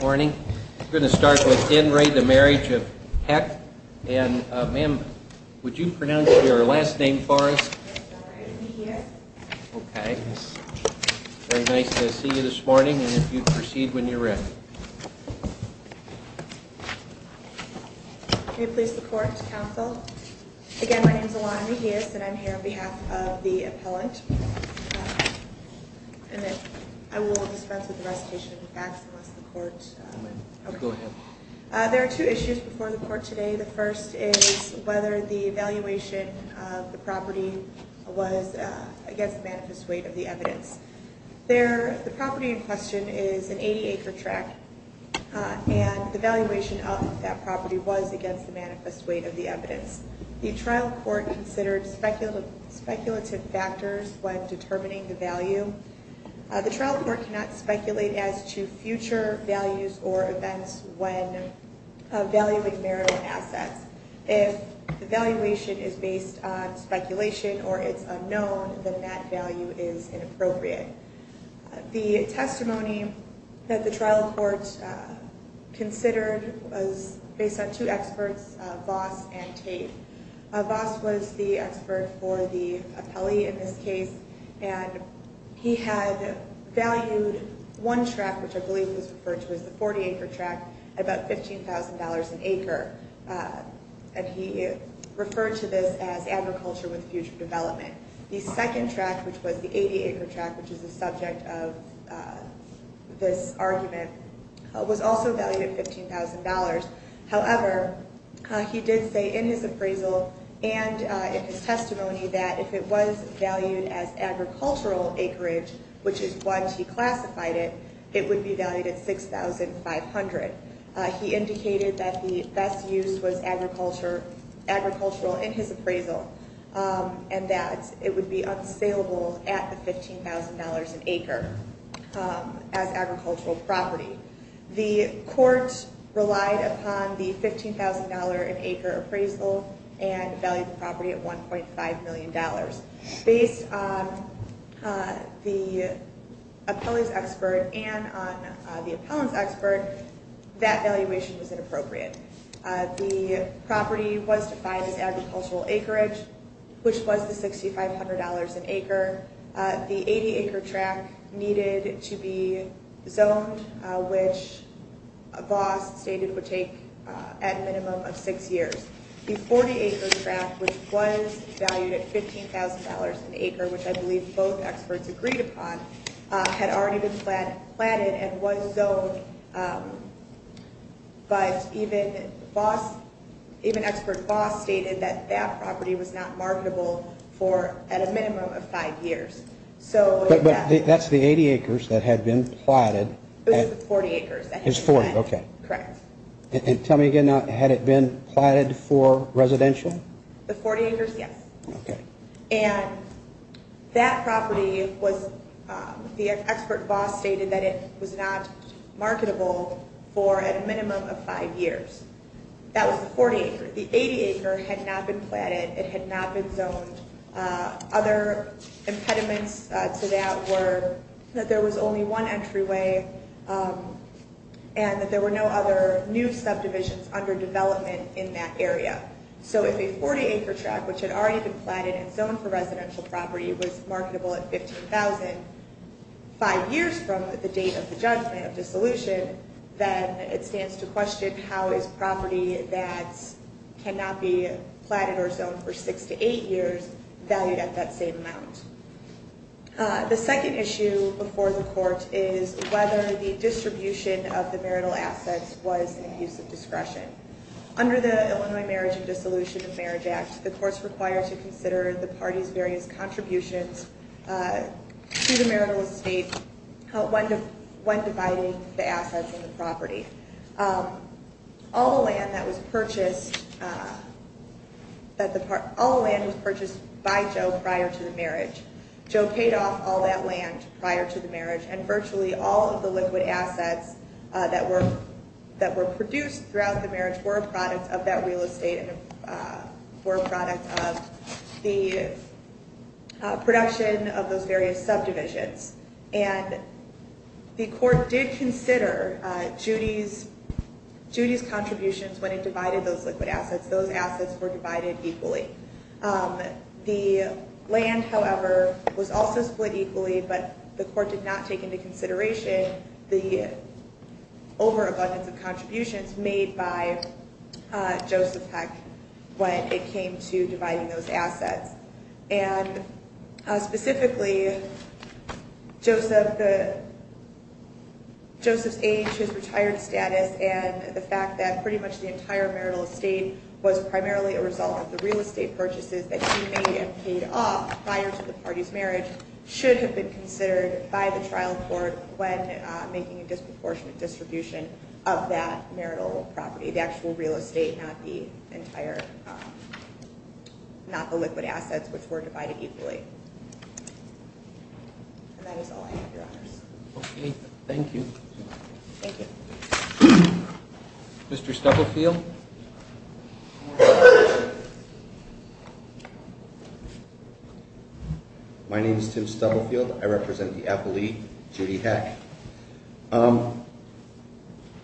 Morning. We're going to start with In re the Marriage of Heck. And ma'am, would you pronounce your last name for us? It's alright, I'm here. Okay. Very nice to see you this morning, and if you'd proceed when you're ready. May I please report to council? Again, my name is Alana Mejias, and I'm here on behalf of the appellant. I will dispense with the recitation of the facts unless the court... Go ahead. There are two issues before the court today. The first is whether the evaluation of the property was against the manifest weight of the evidence. The property in question is an 80 acre tract, and the evaluation of that property was against the manifest weight of the evidence. The trial court considered speculative factors when determining the value. The trial court cannot speculate as to future values or events when valuing marital assets. If the evaluation is based on speculation or it's unknown, then that value is inappropriate. The testimony that the trial court considered was based on two experts, Voss and Tate. Voss was the expert for the appellee in this case, and he had valued one tract, which I believe was referred to as the 40 acre tract, at about $15,000 an acre. And he referred to this as agriculture with future development. The second tract, which was the 80 acre tract, which is the subject of this argument, was also valued at $15,000. However, he did say in his appraisal and in his testimony that if it was valued as agricultural acreage, which is what he classified it, it would be valued at $6,500. He indicated that the best use was agricultural in his appraisal and that it would be unsaleable at the $15,000 an acre as agricultural property. The court relied upon the $15,000 an acre appraisal and valued the property at $1.5 million. Based on the appellee's expert and on the appellant's expert, that valuation was inappropriate. The property was defined as agricultural acreage, which was the $6,500 an acre. The 80 acre tract needed to be zoned, which Voss stated would take at minimum of six years. The 40 acre tract, which was valued at $15,000 an acre, which I believe both experts agreed upon, had already been planted and was zoned. But even expert Voss stated that that property was not marketable for at a minimum of five years. But that's the 80 acres that had been planted. It was the 40 acres that had been planted. It's 40, okay. Correct. And tell me again, had it been planted for residential? The 40 acres, yes. Okay. And that property was, the expert Voss stated that it was not marketable for a minimum of five years. That was the 40 acre. The 80 acre had not been planted. It had not been zoned. Other impediments to that were that there was only one entryway and that there were no other new subdivisions under development in that area. So if a 40 acre tract, which had already been planted and zoned for residential property, was marketable at $15,000 five years from the date of the judgment of dissolution, then it stands to question how is property that cannot be planted or zoned for six to eight years valued at that same amount. The second issue before the court is whether the distribution of the marital assets was an abuse of discretion. Under the Illinois Marriage and Dissolution of Marriage Act, the court is required to consider the party's various contributions to the marital estate when dividing the assets in the property. All the land that was purchased, all the land was purchased by Joe prior to the marriage. Joe paid off all that land prior to the marriage, and virtually all of the liquid assets that were produced throughout the marriage were a product of that real estate and were a product of the production of those various subdivisions. And the court did consider Judy's contributions when it divided those liquid assets. Those assets were divided equally. The land, however, was also split equally, but the court did not take into consideration the overabundance of contributions made by Joseph Heck when it came to dividing those assets. And specifically, Joseph's age, his retired status, and the fact that pretty much the entire marital estate was primarily a result of the real estate purchases that he made and paid off prior to the party's marriage should have been considered by the trial court when making a disproportionate distribution of that marital property, the actual real estate, not the liquid assets, which were divided equally. And that is all I have, Your Honors. Okay, thank you. Thank you. Mr. Stubblefield? My name is Tim Stubblefield. I represent the Apple League, Judy Heck.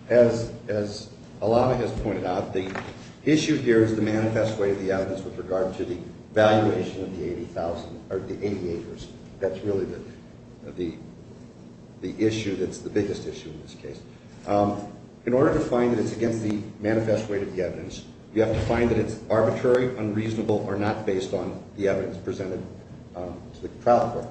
As Alava has pointed out, the issue here is the manifest way of the evidence with regard to the valuation of the 80 acres. That's really the issue that's the biggest issue in this case. In order to find that it's against the manifest way of the evidence, you have to find that it's arbitrary, unreasonable, or not based on the evidence presented to the trial court.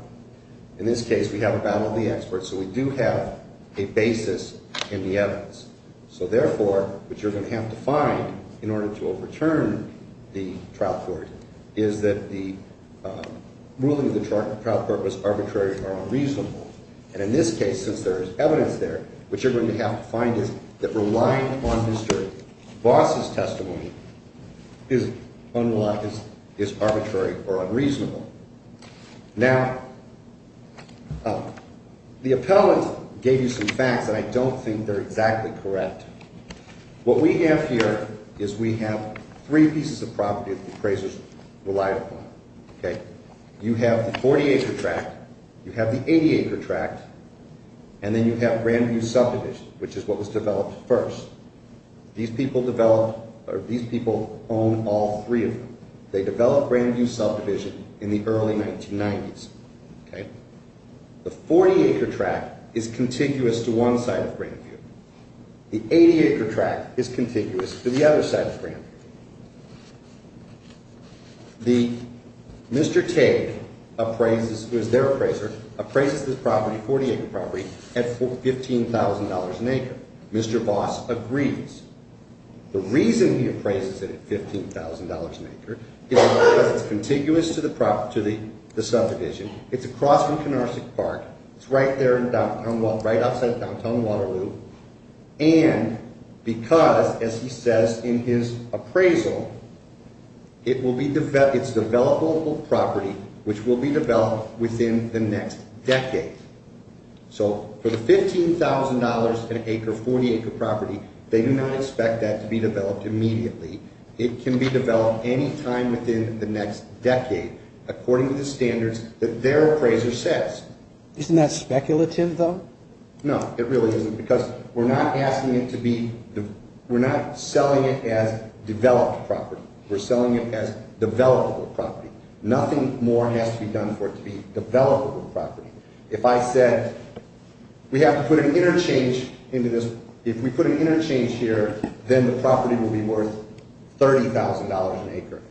In this case, we have a battle of the experts, so we do have a basis in the evidence. So therefore, what you're going to have to find in order to overturn the trial court is that the ruling of the trial court was arbitrary or unreasonable. And in this case, since there is evidence there, what you're going to have to find is that relying on Mr. Voss' testimony is arbitrary or unreasonable. Now, the appellant gave you some facts, and I don't think they're exactly correct. What we have here is we have three pieces of property that the appraisers relied upon. You have the 40-acre tract, you have the 80-acre tract, and then you have Grandview Subdivision, which is what was developed first. These people own all three of them. They developed Grandview Subdivision in the early 1990s. The 40-acre tract is contiguous to one side of Grandview. The 80-acre tract is contiguous to the other side of Grandview. Mr. Tate, who is their appraiser, appraises this property, 40-acre property, at $15,000 an acre. Mr. Voss agrees. The reason he appraises it at $15,000 an acre is because it's contiguous to the subdivision. It's across from Canarsie Park. It's right outside of downtown Waterloo. And because, as he says in his appraisal, it's developable property, which will be developed within the next decade. So for the $15,000 an acre, 40-acre property, they do not expect that to be developed immediately. It can be developed any time within the next decade, according to the standards that their appraiser says. Isn't that speculative, though? No, it really isn't, because we're not asking it to be – we're not selling it as developed property. We're selling it as developable property. Nothing more has to be done for it to be developable property. If I said, we have to put an interchange into this – if we put an interchange here, then the property will be worth $30,000 an acre.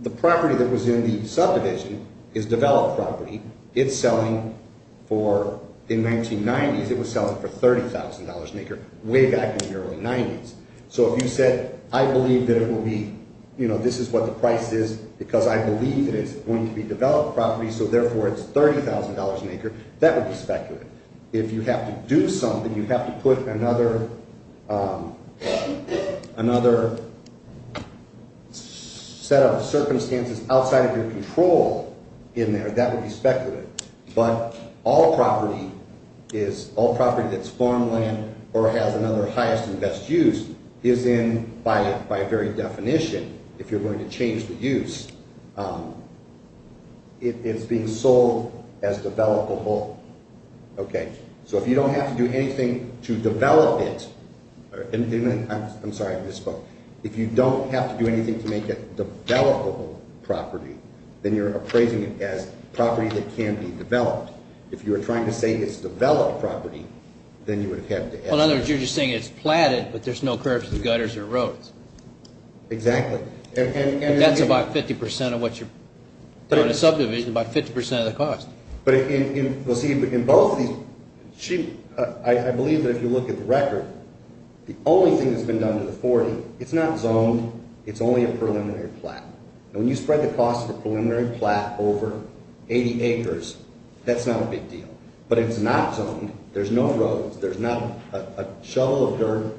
The property that was in the subdivision is developed property. It's selling for – in the 1990s, it was selling for $30,000 an acre, way back in the early 90s. So if you said, I believe that it will be – this is what the price is because I believe it is going to be developed property, so therefore it's $30,000 an acre, that would be speculative. If you have to do something, you have to put another set of circumstances outside of your control in there, that would be speculative. But all property is – all property that's farmland or has another highest and best use is in, by very definition, if you're going to change the use, it's being sold as developable. So if you don't have to do anything to develop it – I'm sorry, I misspoke. If you don't have to do anything to make it developable property, then you're appraising it as property that can be developed. If you were trying to say it's developed property, then you would have had to – In other words, you're just saying it's platted, but there's no curbs, gutters, or roads. Exactly. That's about 50% of what you're – in a subdivision, about 50% of the cost. But in both of these – I believe that if you look at the record, the only thing that's been done to the 40, it's not zoned, it's only a preliminary plat. And when you spread the cost of a preliminary plat over 80 acres, that's not a big deal. But it's not zoned, there's no roads, there's not a shovel of dirt.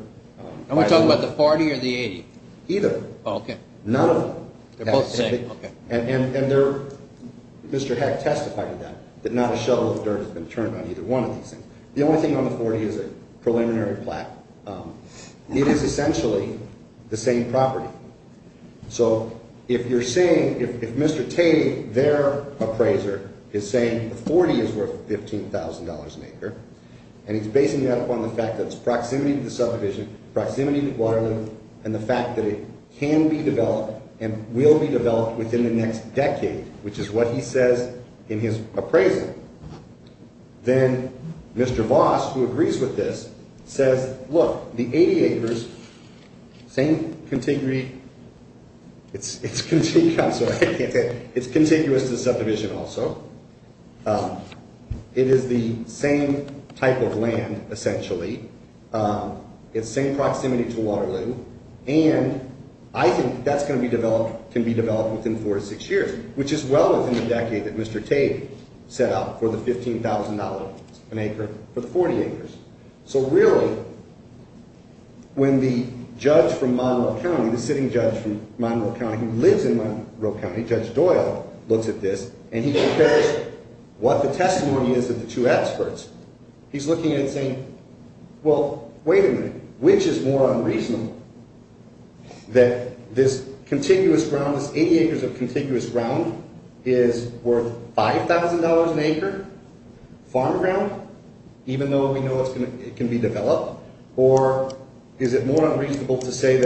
Are we talking about the 40 or the 80? Either. Oh, okay. None of them. They're both the same, okay. Mr. Heck testified to that, that not a shovel of dirt has been turned on either one of these things. The only thing on the 40 is a preliminary plat. It is essentially the same property. So if you're saying – if Mr. Tate, their appraiser, is saying the 40 is worth $15,000 an acre, and he's basing that upon the fact that it's proximity to the subdivision, proximity to Waterloo, and the fact that it can be developed and will be developed within the next decade, which is what he says in his appraisal, then Mr. Voss, who agrees with this, says, look, the 80 acres, same contiguity – it's contiguous to the subdivision also. It is the same type of land, essentially. It's the same proximity to Waterloo, and I think that's going to be developed – can be developed within four to six years, which is well within the decade that Mr. Tate set out for the $15,000 an acre for the 40 acres. So really, when the judge from Monroe County, the sitting judge from Monroe County, who lives in Monroe County, Judge Doyle, looks at this and he compares what the testimony is of the two experts. He's looking and saying, well, wait a minute, which is more unreasonable, that this contiguous ground, this 80 acres of contiguous ground is worth $5,000 an acre, farm ground, even though we know it can be developed, or is it more unreasonable to say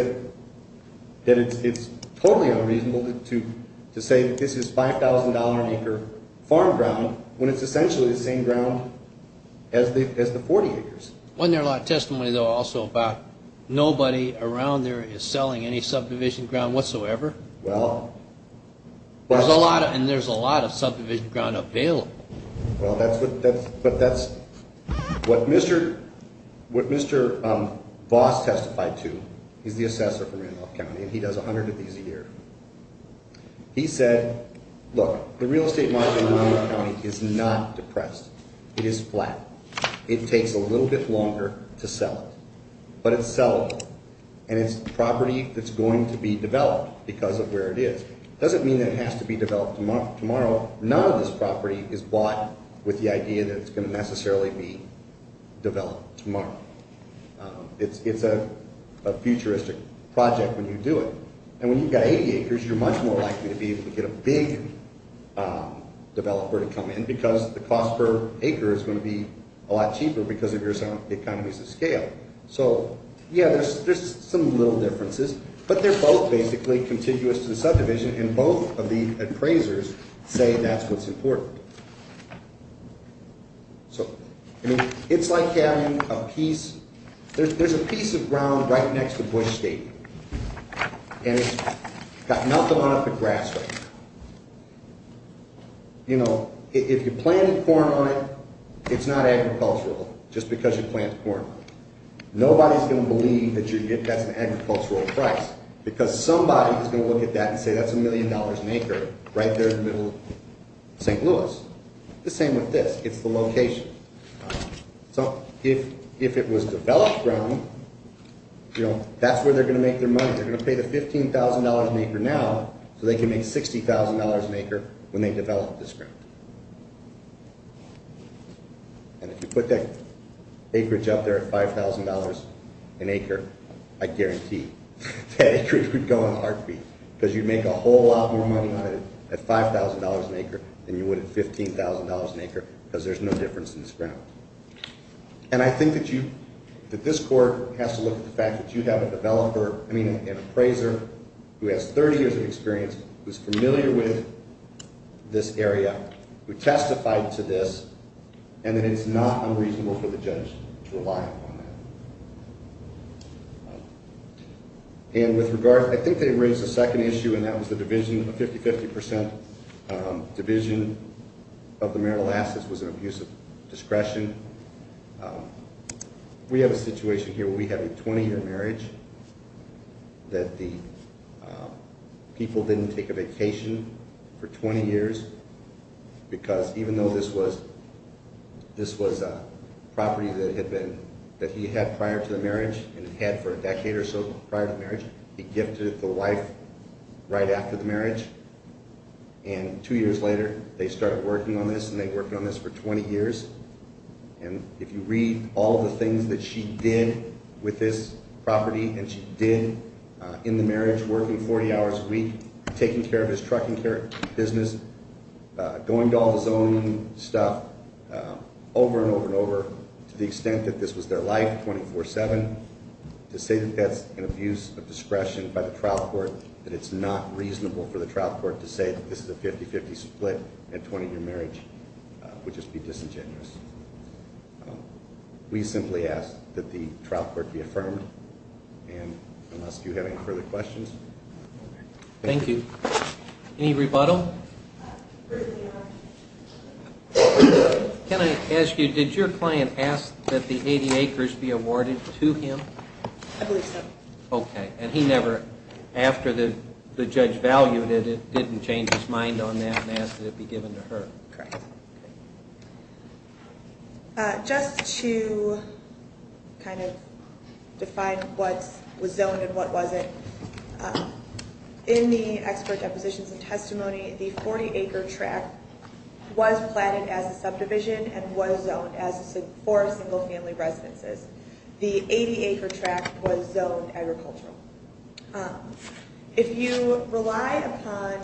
that it's totally unreasonable to say that this is $5,000 an acre farm ground when it's essentially the same ground as the 40 acres? Wasn't there a lot of testimony, though, also about nobody around there is selling any subdivision ground whatsoever? Well, but – There's a lot of – and there's a lot of subdivision ground available. Well, that's what – but that's what Mr. Voss testified to. He's the assessor for Randolph County, and he does 100 of these a year. He said, look, the real estate market in Randolph County is not depressed. It is flat. It takes a little bit longer to sell it, but it's sellable, and it's property that's going to be developed because of where it is. It doesn't mean that it has to be developed tomorrow. None of this property is bought with the idea that it's going to necessarily be developed tomorrow. It's a futuristic project when you do it. And when you've got 80 acres, you're much more likely to be able to get a big developer to come in because the cost per acre is going to be a lot cheaper because of your economies of scale. So, yeah, there's some little differences, but they're both basically contiguous to the subdivision, and both of the appraisers say that's what's important. So, I mean, it's like having a piece – there's a piece of ground right next to Bush Stadium, and it's got nothing on it but grass right now. You know, if you're planting corn on it, it's not agricultural just because you plant corn on it. Nobody's going to believe that that's an agricultural price because somebody is going to look at that and say that's a million dollars an acre right there in the middle of St. Louis. The same with this. It's the location. So if it was developed ground, you know, that's where they're going to make their money. They're going to pay the $15,000 an acre now so they can make $60,000 an acre when they develop this ground. And if you put that acreage up there at $5,000 an acre, I guarantee that acreage would go in a heartbeat because you'd make a whole lot more money on it at $5,000 an acre than you would at $15,000 an acre because there's no difference in this ground. And I think that you – that this court has to look at the fact that you have a developer – I mean an appraiser who has 30 years of experience, who's familiar with this area, who testified to this, and that it's not unreasonable for the judge to rely upon that. And with regard – I think they raised a second issue, and that was the division of 50-50 percent. Division of the marital assets was an abuse of discretion. We have a situation here where we have a 20-year marriage that the people didn't take a vacation for 20 years because even though this was – this was a property that had been – that he had prior to the marriage and had for a decade or so prior to the marriage, he gifted it to the wife right after the marriage. And two years later, they started working on this, and they worked on this for 20 years. And if you read all the things that she did with this property, and she did in the marriage, working 40 hours a week, taking care of his trucking business, going to all his own stuff over and over and over to the extent that this was their life 24-7, to say that that's an abuse of discretion by the trial court, that it's not reasonable for the trial court to say that this is a 50-50 split and a 20-year marriage would just be disingenuous. We simply ask that the trial court be affirmed. And unless you have any further questions. Thank you. Any rebuttal? First of all, can I ask you, did your client ask that the 80 acres be awarded to him? I believe so. Okay. And he never – after the judge valued it, didn't change his mind on that and asked that it be given to her? Correct. Just to kind of define what was zoned and what wasn't, in the expert depositions and testimony, the 40-acre tract was planted as a subdivision and was zoned as for single-family residences. The 80-acre tract was zoned agricultural. If you rely upon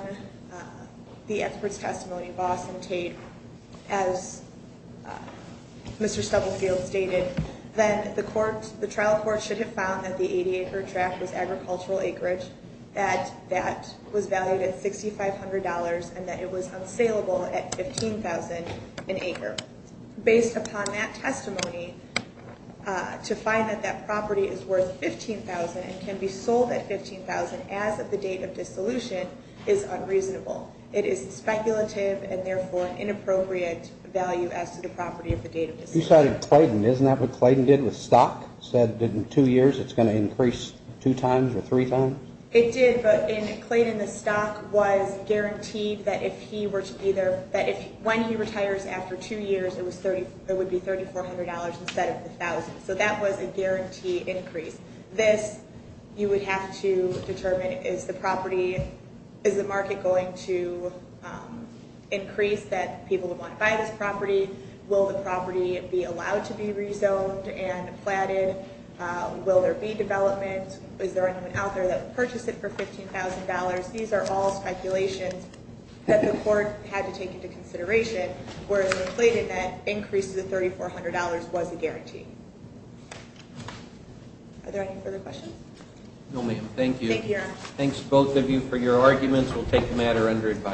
the expert's testimony, Boss and Tate, as Mr. Stubblefield stated, then the trial court should have found that the 80-acre tract was agricultural acreage, that that was valued at $6,500 and that it was unsaleable at $15,000 an acre. Based upon that testimony, to find that that property is worth $15,000 and can be sold at $15,000 as of the date of dissolution is unreasonable. It is speculative and therefore an inappropriate value as to the property of the date of dissolution. You cited Clayton. Isn't that what Clayton did with stock? Said in two years it's going to increase two times or three times? It did, but in Clayton, the stock was guaranteed that when he retires after two years, it would be $3,400 instead of $1,000. So that was a guarantee increase. This, you would have to determine, is the market going to increase that people would want to buy this property? Will the property be allowed to be rezoned and platted? Will there be development? Is there anyone out there that would purchase it for $15,000? These are all speculations that the court had to take into consideration, whereas in Clayton, that increase to $3,400 was a guarantee. Are there any further questions? No, ma'am. Thank you. Thank you, Your Honor. Thanks, both of you, for your arguments. We'll take the matter under advisory.